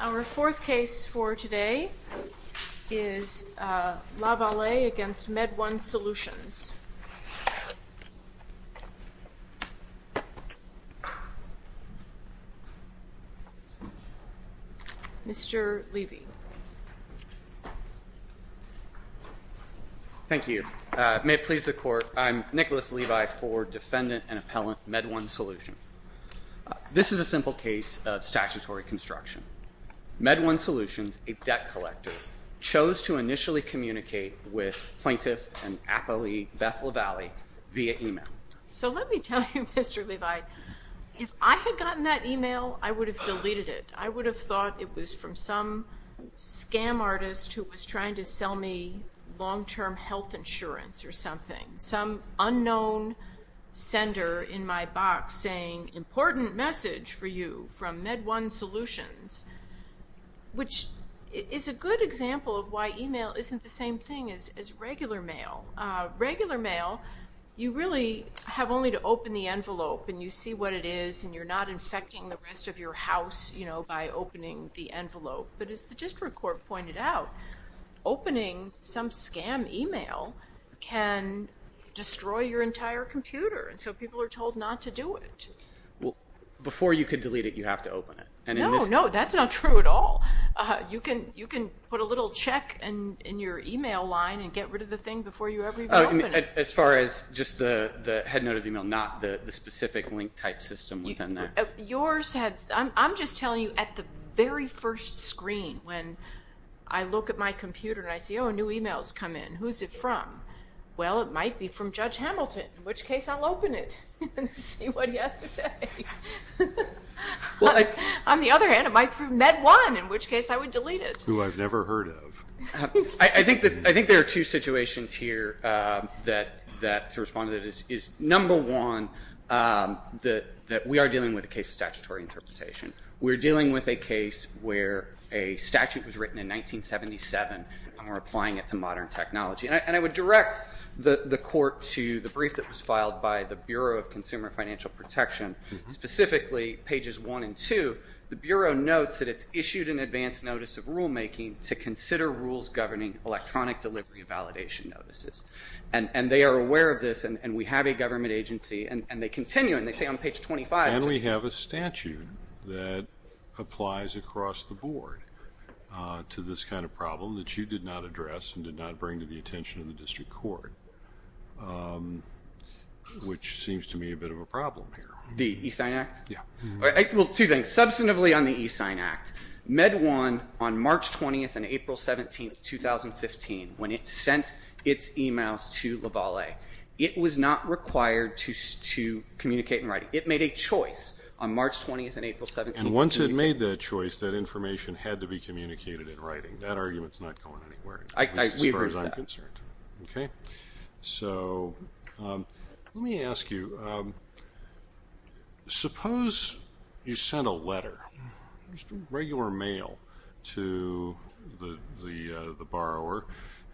Our fourth case for today is Lavallee against MedOne Solutions. Mr. Levy. Thank you. May it please the court, I'm Nicholas Levi for defendant and appellant MedOne Solutions. This is a simple case of statutory construction. MedOne Solutions, a debt collector, chose to initially communicate with plaintiff and appellee Beth Lavallee via email. So let me tell you, Mr. Levi, if I had gotten that email, I would have deleted it. I would have thought it was from some scam artist who was trying to sell me long-term health insurance or something. Some unknown sender in my box saying, important message for you from MedOne Solutions, which is a good example of why email isn't the same thing as regular mail. Regular mail, you really have only to open the envelope and you see what it is and you're not infecting the rest of your house by opening the envelope. But as the district court pointed out, opening some scam email can destroy your entire computer. And so people are told not to do it. Before you could delete it, you have to open it. No, no, that's not true at all. You can put a little check in your email line and get rid of the thing before you ever open it. As far as just the head note of email, not the specific link type system within that. Yours has, I'm just telling you at the very first screen, when I look at my computer and I see, oh, new emails come in. Who's it from? Well, it might be from Judge Hamilton, in which case I'll open it and see what he has to say. On the other hand, it might be from MedOne, in which case I would delete it. Who I've never heard of. I think there are two situations here that, to respond to this, is number one, that we are dealing with a case of statutory interpretation. We're dealing with a case where a statute was written in 1977 and we're applying it to modern technology. And I would direct the court to the brief that was filed by the Bureau of Consumer Financial Protection, specifically pages one and two. The Bureau notes that it's issued an advance notice of rulemaking to consider rules governing electronic delivery and validation notices. And they are aware of this, and we have a government agency, and they continue, and they say on page 25. And we have a statute that applies across the board to this kind of problem that you did not address and did not bring to the attention of the district court, which seems to me a bit of a problem here. The E-Sign Act? Yeah. Well, two things. Substantively on the E-Sign Act, MedOne, on March 20th and April 17th, 2015, when it sent its emails to Lavalle, it was not required to communicate in writing. It made a choice on March 20th and April 17th. And once it made that choice, that information had to be communicated in writing. That argument's not going anywhere, as far as I'm concerned. So let me ask you. Suppose you sent a letter, just regular mail, to the borrower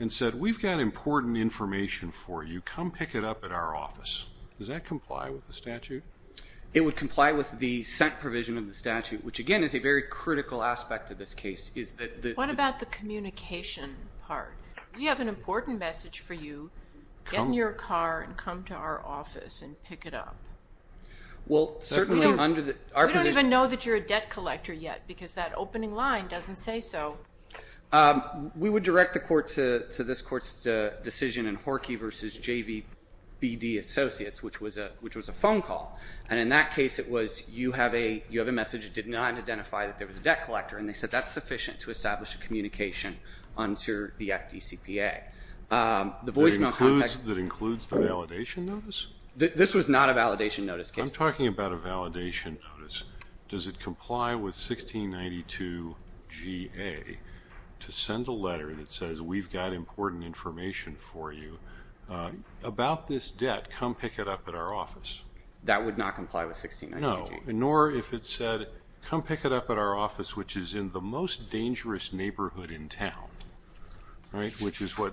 and said, we've got important information for you. Come pick it up at our office. Does that comply with the statute? It would comply with the sent provision of the statute, which, again, is a very critical aspect of this case, is that the- What about the communication part? We have an important message for you. Get in your car and come to our office and pick it up. Well, certainly under the- We don't even know that you're a debt collector yet, because that opening line doesn't say so. We would direct the court to this court's decision in Horky v. JVBD Associates, which was a phone call. And in that case, it was, you have a message. It did not identify that there was a debt collector. And they said that's sufficient to establish a communication under the FDCPA. The voicemail contact- That includes the validation notice? This was not a validation notice case. I'm talking about a validation notice. Does it comply with 1692 GA to send a letter that says, we've got important information for you about this debt, come pick it up at our office? That would not comply with 1692 GA. No, nor if it said, come pick it up at our office, which is in the most dangerous neighborhood in town, which is what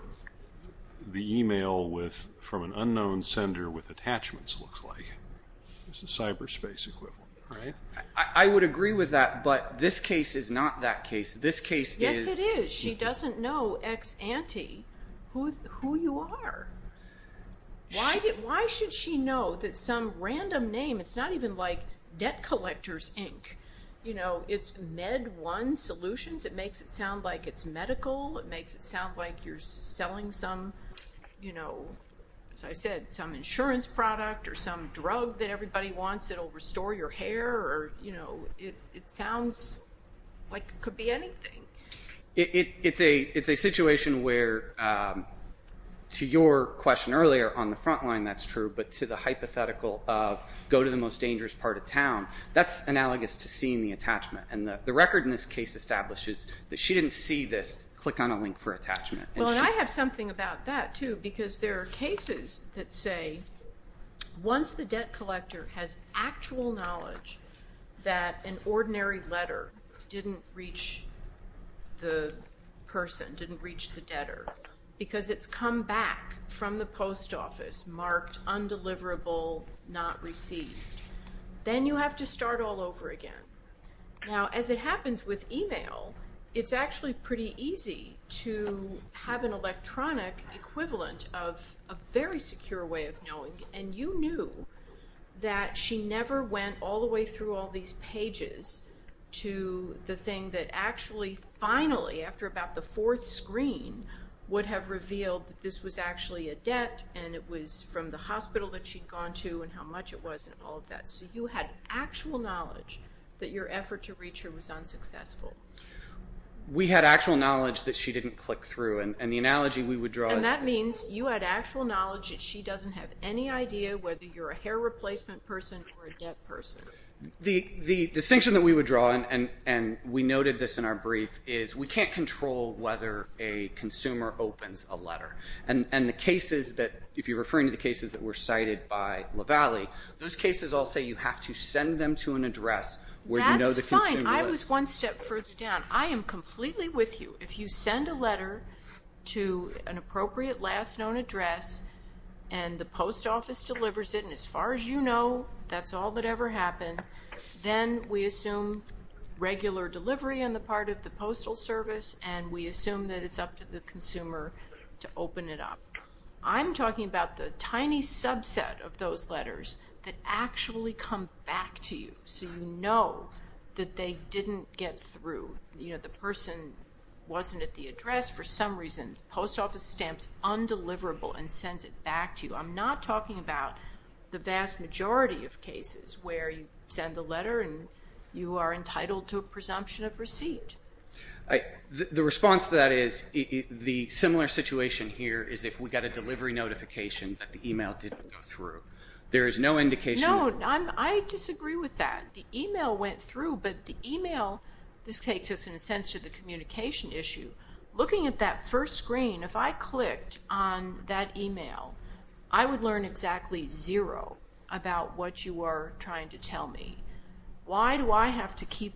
the email from an unknown sender with attachments looks like. It's a cyberspace equivalent. I would agree with that, but this case is not that case. This case is- Yes, it is. She doesn't know ex-ante who you are. Why should she know that some random name, it's not even like Debt Collectors, Inc. It's Med One Solutions. It makes it sound like it's medical. It makes it sound like you're selling some, as I said, some insurance product or some drug that everybody wants that'll restore your hair. It sounds like it could be anything. It's a situation where, to your question earlier, on the front line, that's true, but to the hypothetical of, go to the most dangerous part of town, that's analogous to seeing the attachment. And the record in this case establishes that she didn't see this, click on a link for attachment. Well, and I have something about that, too, because there are cases that say, once the debt collector has actual knowledge that an ordinary letter didn't reach the person, didn't reach the debtor, because it's come back from the post office marked undeliverable, not received, then you have to start all over again. Now, as it happens with email, it's actually pretty easy to have an electronic equivalent of a very secure way of knowing, and you knew that she never went all the way through all these pages to the thing that actually, finally, after about the fourth screen, would have revealed that this was actually a debt, and it was from the hospital that she'd gone to, and how much it was, and all of that. So you had actual knowledge that your effort to reach her was unsuccessful. We had actual knowledge that she didn't click through, and the analogy we would draw is that. And that means you had actual knowledge that she doesn't have any idea whether you're a hair replacement person or a debt person. The distinction that we would draw, and we noted this in our brief, is we can't control whether a consumer opens a letter. And the cases that, if you're referring to the cases that were cited by Lavallee, those cases all say you have to send them to an address where you know the consumer lives. That's fine. I was one step further down. I am completely with you. If you send a letter to an appropriate last known address, and the post office delivers it, and as far as you know, that's all that ever happened, then we assume regular delivery on the part of the postal service, and we assume that it's up to the consumer to open it up. I'm talking about the tiny subset of those letters that actually come back to you, so you know that they didn't get through. You know, the person wasn't at the address for some reason. Post office stamps undeliverable and sends it back to you. I'm not talking about the vast majority of cases where you send the letter and you are entitled to a presumption of receipt. The response to that is, the similar situation here is if we got a delivery notification that the email didn't go through. There is no indication. No, I disagree with that. The email went through, but the email, this takes us in a sense to the communication issue. Looking at that first screen, if I clicked on that email, I would learn exactly zero about what you are trying to tell me. Why do I have to keep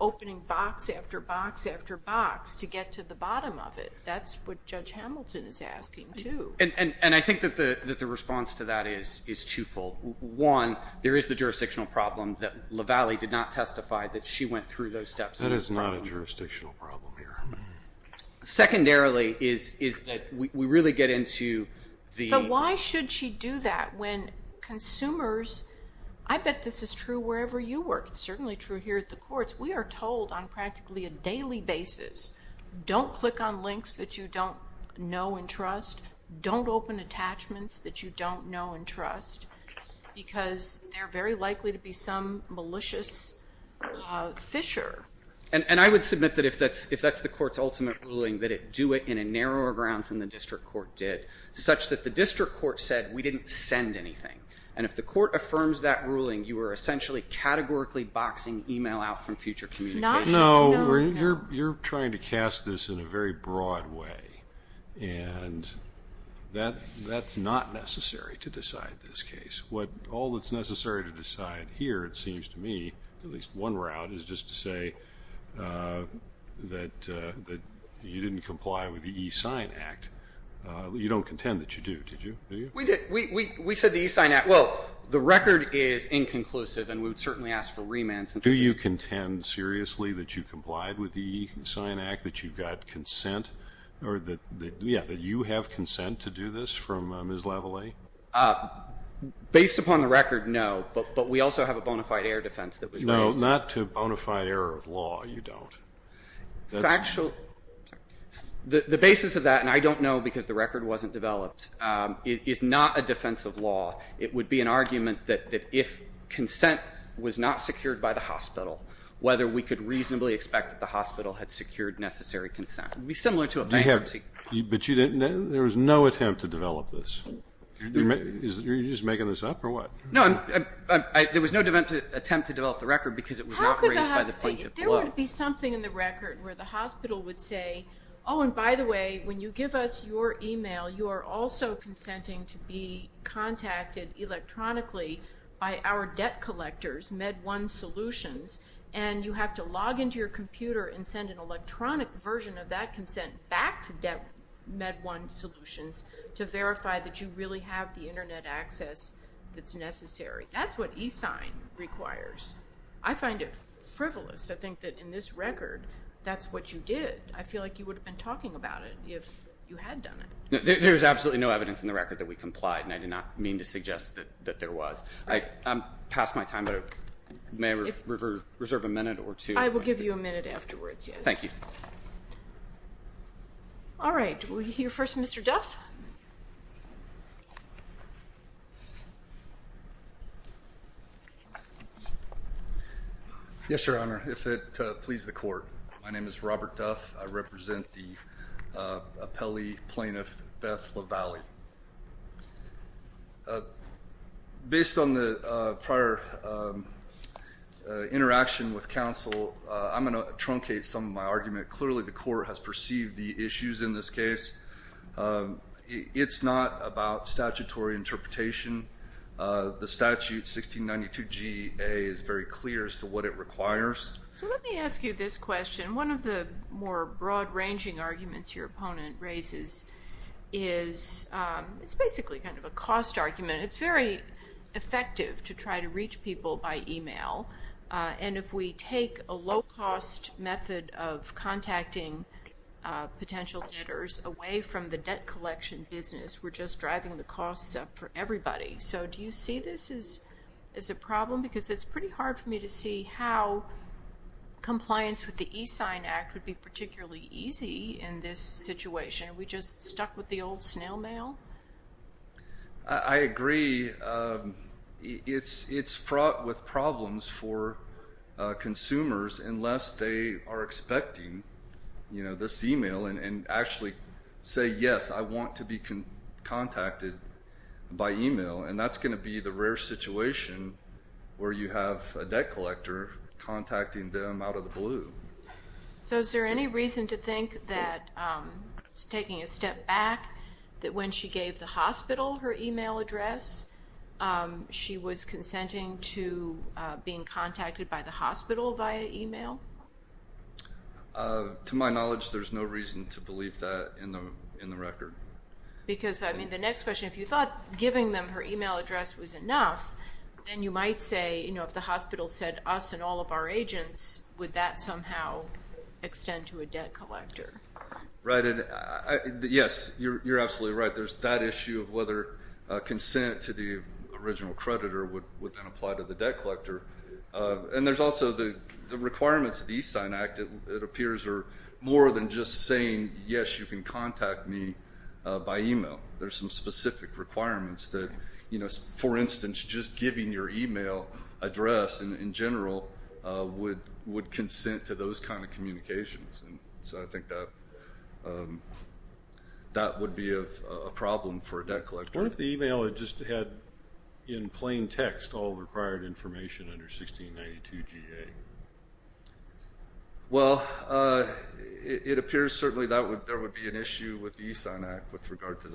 opening box after box after box to get to the bottom of it? That's what Judge Hamilton is asking too. And I think that the response to that is twofold. One, there is the jurisdictional problem that LaValle did not testify that she went through those steps. That is not a jurisdictional problem here. Secondarily is that we really get into the- But why should she do that when consumers, I bet this is true wherever you work. It's certainly true here at the courts. We are told on practically a daily basis, don't click on links that you don't know and trust. Don't open attachments that you don't know and trust because they're very likely to be some malicious fissure. And I would submit that if that's the court's ultimate ruling, that it do it in a narrower grounds than the district court did, such that the district court said we didn't send anything. And if the court affirms that ruling, you are essentially categorically boxing email out from future communication. No, you're trying to cast this in a very broad way. And that's not necessary to decide this case. What all that's necessary to decide here, it seems to me, at least one route is just to say that you didn't comply with the E-Sign Act. You don't contend that you do, did you? We did, we said the E-Sign Act. Well, the record is inconclusive and we would certainly ask for remands. Do you contend seriously that you complied with the E-Sign Act, that you've got consent or that, yeah, that you have consent to do this from Ms. Lavallee? Based upon the record, no. But we also have a bona fide air defense that was raised. No, not to bona fide error of law, you don't. Factual, the basis of that, and I don't know because the record wasn't developed, is not a defense of law. It would be an argument that if consent was not secured by the hospital, whether we could reasonably expect that the hospital had secured necessary consent. It would be similar to a bankruptcy. But you didn't, there was no attempt to develop this. You're just making this up or what? No, there was no attempt to develop the record because it was not raised by the plaintiff alone. There would be something in the record where the hospital would say, oh, and by the way, when you give us your email, you are also consenting to be contacted electronically by our debt collectors, MedOne Solutions, and you have to log into your computer and send an electronic version of that consent back to MedOne Solutions to verify that you really have the internet access that's necessary. That's what eSign requires. I find it frivolous to think that in this record, that's what you did. I feel like you would have been talking about it if you had done it. There's absolutely no evidence in the record that we complied, and I did not mean to suggest that there was. I'm past my time, but may I reserve a minute or two? I will give you a minute afterwards, yes. Thank you. All right, we'll hear first from Mr. Duff. Yes, Your Honor, if it pleases the court. My name is Robert Duff. I represent the appellee plaintiff Beth LaValle. Based on the prior interaction with counsel, I'm going to truncate some of my argument. Clearly, the court has perceived the issues in this case. It's not about statutory interpretation. The statute, 1692 G.A., is very clear as to what it requires. So let me ask you this question. One of the more broad-ranging arguments your opponent raises is it's basically kind of a cost argument. It's very effective to try to reach people by email, and if we take a low-cost method of contacting potential debtors away from the debt collection business, we're just driving the costs up for everybody. So do you see this as a problem? Because it's pretty hard for me to see how compliance with the E-Sign Act would be particularly easy in this situation. Are we just stuck with the old snail mail? I agree. It's fraught with problems for consumers unless they are expecting, you know, this email and actually say, yes, I want to be contacted by email, and that's going to be the rare situation where you have a debt collector contacting them out of the blue. So is there any reason to think that, taking a step back, that when she gave the hospital her email address, she was consenting to being contacted by the hospital via email? To my knowledge, there's no reason to believe that in the record. Because, I mean, the next question, if you thought giving them her email address was enough, then you might say, you know, if the hospital said that us and all of our agents, would that somehow extend to a debt collector? Right. Yes, you're absolutely right. There's that issue of whether consent to the original creditor would then apply to the debt collector. And there's also the requirements of the E-Sign Act. It appears are more than just saying, yes, you can contact me by email. There's some specific requirements that, you know, for instance, just giving your email address in general would consent to those kind of communications. And so I think that would be a problem for a debt collector. What if the email had just had, in plain text, all the required information under 1692 GA? Well, it appears, certainly, there would be an issue with the E-Sign Act with regard to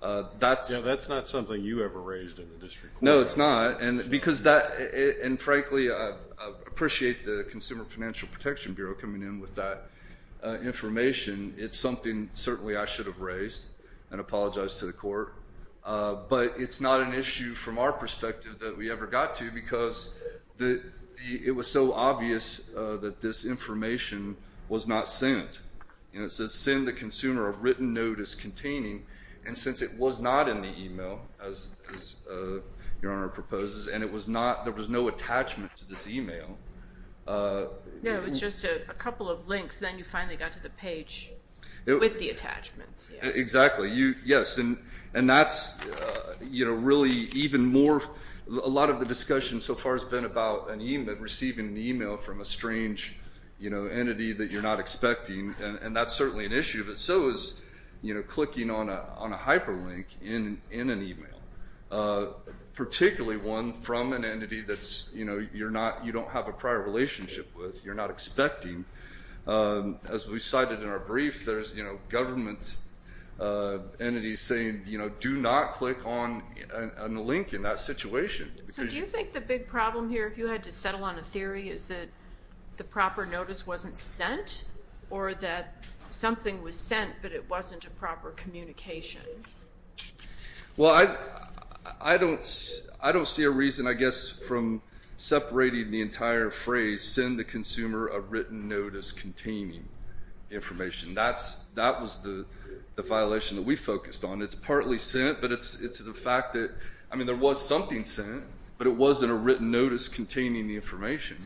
that. That's not something you ever raised in the district court. No, it's not. And frankly, I appreciate the Consumer Financial Protection Bureau coming in with that information. It's something, certainly, I should have raised and apologized to the court. But it's not an issue from our perspective that we ever got to because it was so obvious that this information was not sent. You know, it says, send the consumer a written notice containing. And since it was not in the email, as Your Honor proposes, and it was not, there was no attachment to this email. No, it's just a couple of links. Then you finally got to the page with the attachments. Exactly. Yes, and that's, you know, really even more, a lot of the discussion so far has been about an email, receiving an email from a strange, you know, entity that you're not expecting. And that's certainly an issue. But so is, you know, clicking on a hyperlink in an email, particularly one from an entity that's, you know, you're not, you don't have a prior relationship with, you're not expecting. As we cited in our brief, there's, you know, government entities saying, you know, do not click on a link in that situation. So do you think the big problem here, if you had to settle on a theory, is that the proper notice wasn't sent or that something was sent, but it wasn't a proper communication? Well, I don't see a reason, I guess, from separating the entire phrase, send the consumer a written notice containing the information. That was the violation that we focused on. It's partly sent, but it's the fact that, I mean, there was something sent, but it wasn't a written notice containing the information.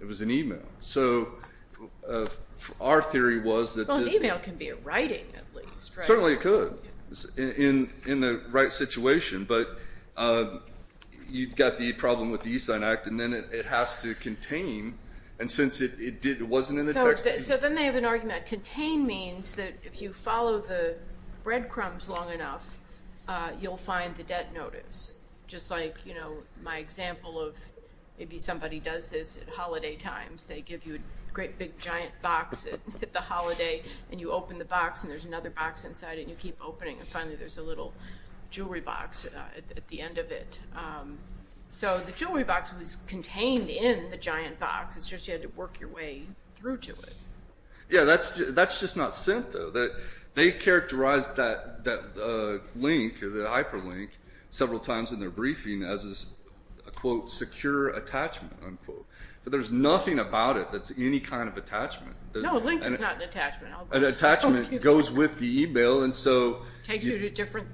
It was an email. So our theory was that the- Certainly it could in the right situation, but you've got the problem with the E-Sign Act and then it has to contain. And since it wasn't in the text- So then they have an argument. Contain means that if you follow the breadcrumbs long enough, you'll find the debt notice. Just like, you know, my example of, maybe somebody does this at holiday times. They give you a great big giant box at the holiday and you open the box and there's another box inside and you keep opening and finally there's a little jewelry box at the end of it. So the jewelry box was contained in the giant box. It's just you had to work your way through to it. Yeah, that's just not sent though. They characterized that link, the hyperlink, several times in their briefing as a, quote, secure attachment, unquote. But there's nothing about it that's any kind of attachment. No, a link is not an attachment. An attachment goes with the e-mail and so- Takes you to different-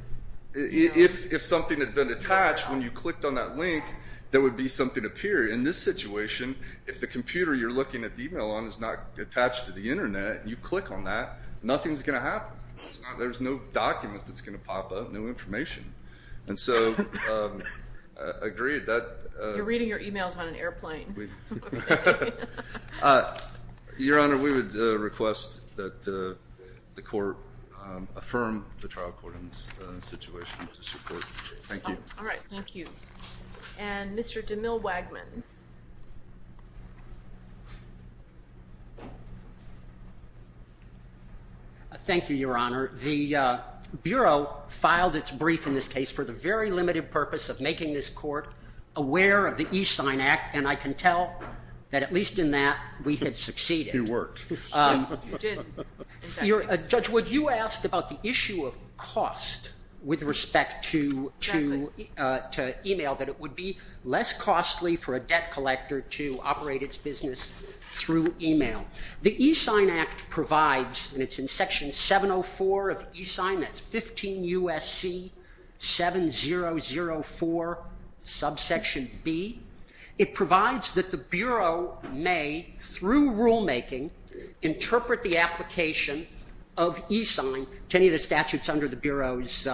If something had been attached, when you clicked on that link, there would be something appear. In this situation, if the computer you're looking at the e-mail on is not attached to the internet and you click on that, nothing's going to happen. There's no document that's going to pop up, no information. And so, agreed. You're reading your e-mails on an airplane. Your Honor, we would request that the court affirm the trial court in this situation to support. Thank you. All right, thank you. And Mr. DeMille Wagman. Thank you, Your Honor. The Bureau filed its brief in this case for the very limited purpose of making this court aware of the Each Sign Act, and I can tell that, at least in that, we had succeeded. You worked. Yes, you did. Judge Wood, you asked about the issue of cost with respect to e-mail, that it would be less costly for a debt collector to operate its business through e-mail. The Each Sign Act provides, and it's in Section 704 of Each Sign, that's 15 U.S.C. 7004, subsection B. It provides that the Bureau may, through rulemaking, interpret the application of e-sign to any of the statutes under the Bureau's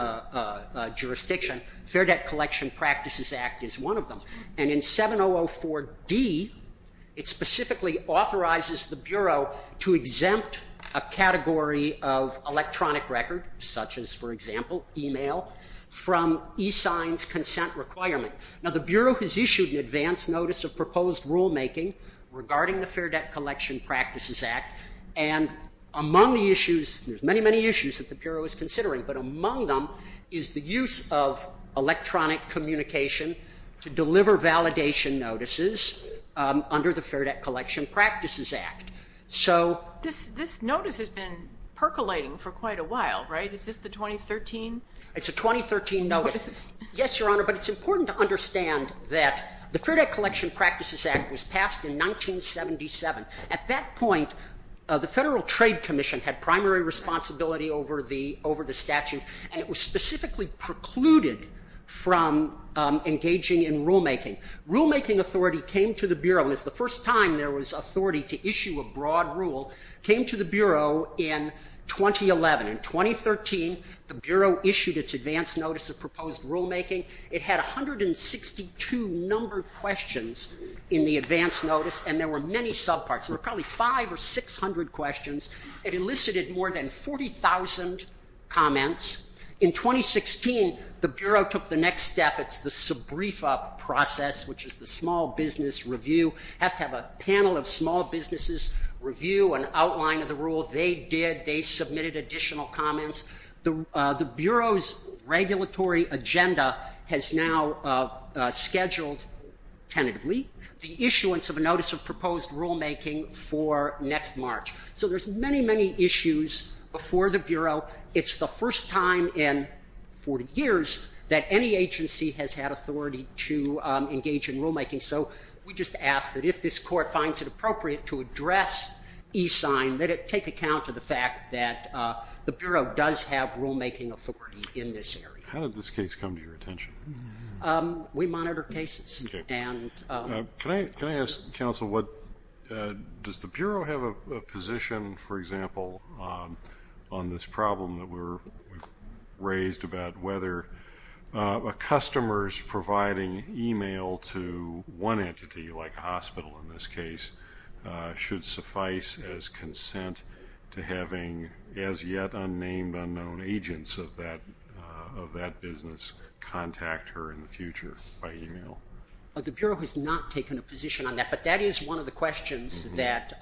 jurisdiction. Fair Debt Collection Practices Act is one of them. And in 7004D, it specifically authorizes the Bureau to exempt a category of electronic record, such as, for example, e-mail, from e-sign's consent requirement. Now, the Bureau has issued an advance notice of proposed rulemaking regarding the Fair Debt Collection Practices Act, and among the issues, there's many, many issues that the Bureau is considering, but among them is the use of electronic communication to deliver validation notices under the Fair Debt Collection Practices Act. This notice has been percolating for quite a while, right? Is this the 2013? It's a 2013 notice. Yes, Your Honor, but it's important to understand that the Fair Debt Collection Practices Act was passed in 1977. At that point, the Federal Trade Commission had primary responsibility over the statute, and it was specifically precluded from engaging in rulemaking. Rulemaking authority came to the Bureau, and it's the first time there was authority to issue a broad rule, came to the Bureau in 2011. In 2013, the Bureau issued its advance notice of proposed rulemaking. It had 162 numbered questions in the advance notice, and there were many subparts. There were probably 500 or 600 questions. It elicited more than 40,000 comments. In 2016, the Bureau took the next step. It's the SBREFA process, which is the Small Business Review. It has to have a panel of small businesses review an outline of the rule. They did. They submitted additional comments. The Bureau's regulatory agenda has now scheduled tentatively the issuance of a notice of proposed rulemaking for next March. So there's many, many issues before the Bureau. It's the first time in 40 years that any agency has had authority to engage in rulemaking. So we just ask that if this Court finds it appropriate to address e-sign, that it take account of the fact that the Bureau does have rulemaking authority in this area. How did this case come to your attention? We monitor cases. Can I ask, Counsel, does the Bureau have a position, for example, on this problem that we've raised about whether a customer's providing email to one entity, like a hospital in this case, should suffice as consent to having as yet unnamed, unknown agents of that business contact her in the future by email? The Bureau has not taken a position on that, but that is one of the questions that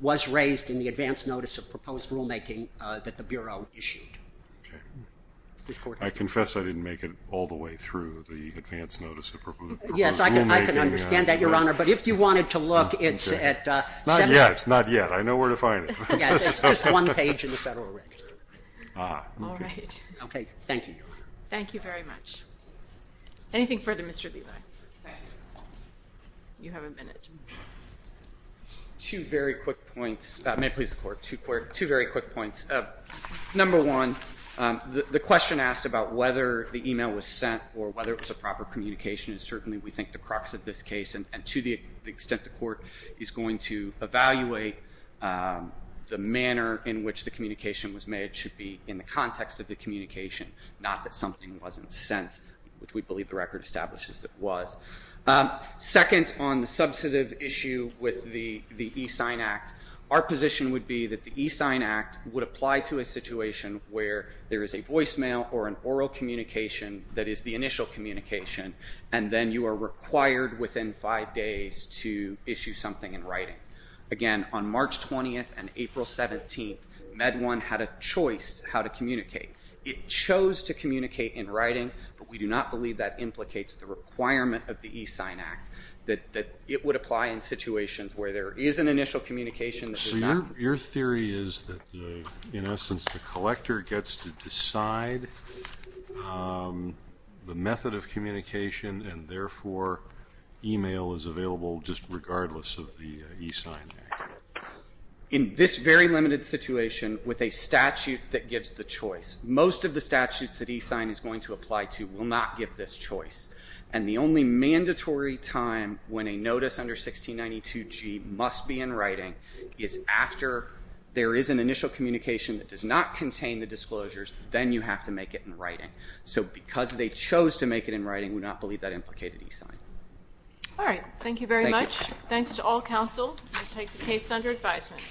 was raised in the advance notice of proposed rulemaking that the Bureau issued. I confess I didn't make it all the way through the advance notice of proposed rulemaking. Yes, I can understand that, Your Honor. But if you wanted to look, it's at 7. Not yet, not yet. I know where to find it. Yes, it's just one page in the Federal Register. All right. OK, thank you. Thank you very much. Anything further, Mr. Levi? You have a minute. Two very quick points. May it please the Court, two very quick points. Number one, the question asked about whether the email was sent or whether it was a proper communication is certainly, we think, the crux of this case. And to the extent the Court is going to evaluate the manner in which the communication was made, it should be in the context of the communication, not that something wasn't sent, which we believe the record establishes it was. Second, on the substantive issue with the e-sign act, our position would be that the e-sign act would apply to a situation where there is a voicemail or an oral communication that is the initial communication, and then you are required within five days to issue something in writing. Again, on March 20th and April 17th, MedOne had a choice how to communicate. It chose to communicate in writing, but we do not believe that implicates the requirement of the e-sign act, that it would apply in situations where there is an initial communication. So your theory is that, in essence, the collector gets to decide the method of communication and, therefore, email is available just regardless of the e-sign act. In this very limited situation, with a statute that gives the choice, most of the statutes that e-sign is going to apply to will not give this choice. And the only mandatory time when a notice under 1692G must be in writing is after there is an initial communication that does not contain the disclosures, then you have to make it in writing. So because they chose to make it in writing, we do not believe that implicated e-sign. All right. Thank you very much. Thanks to all counsel. I take the case under advisement.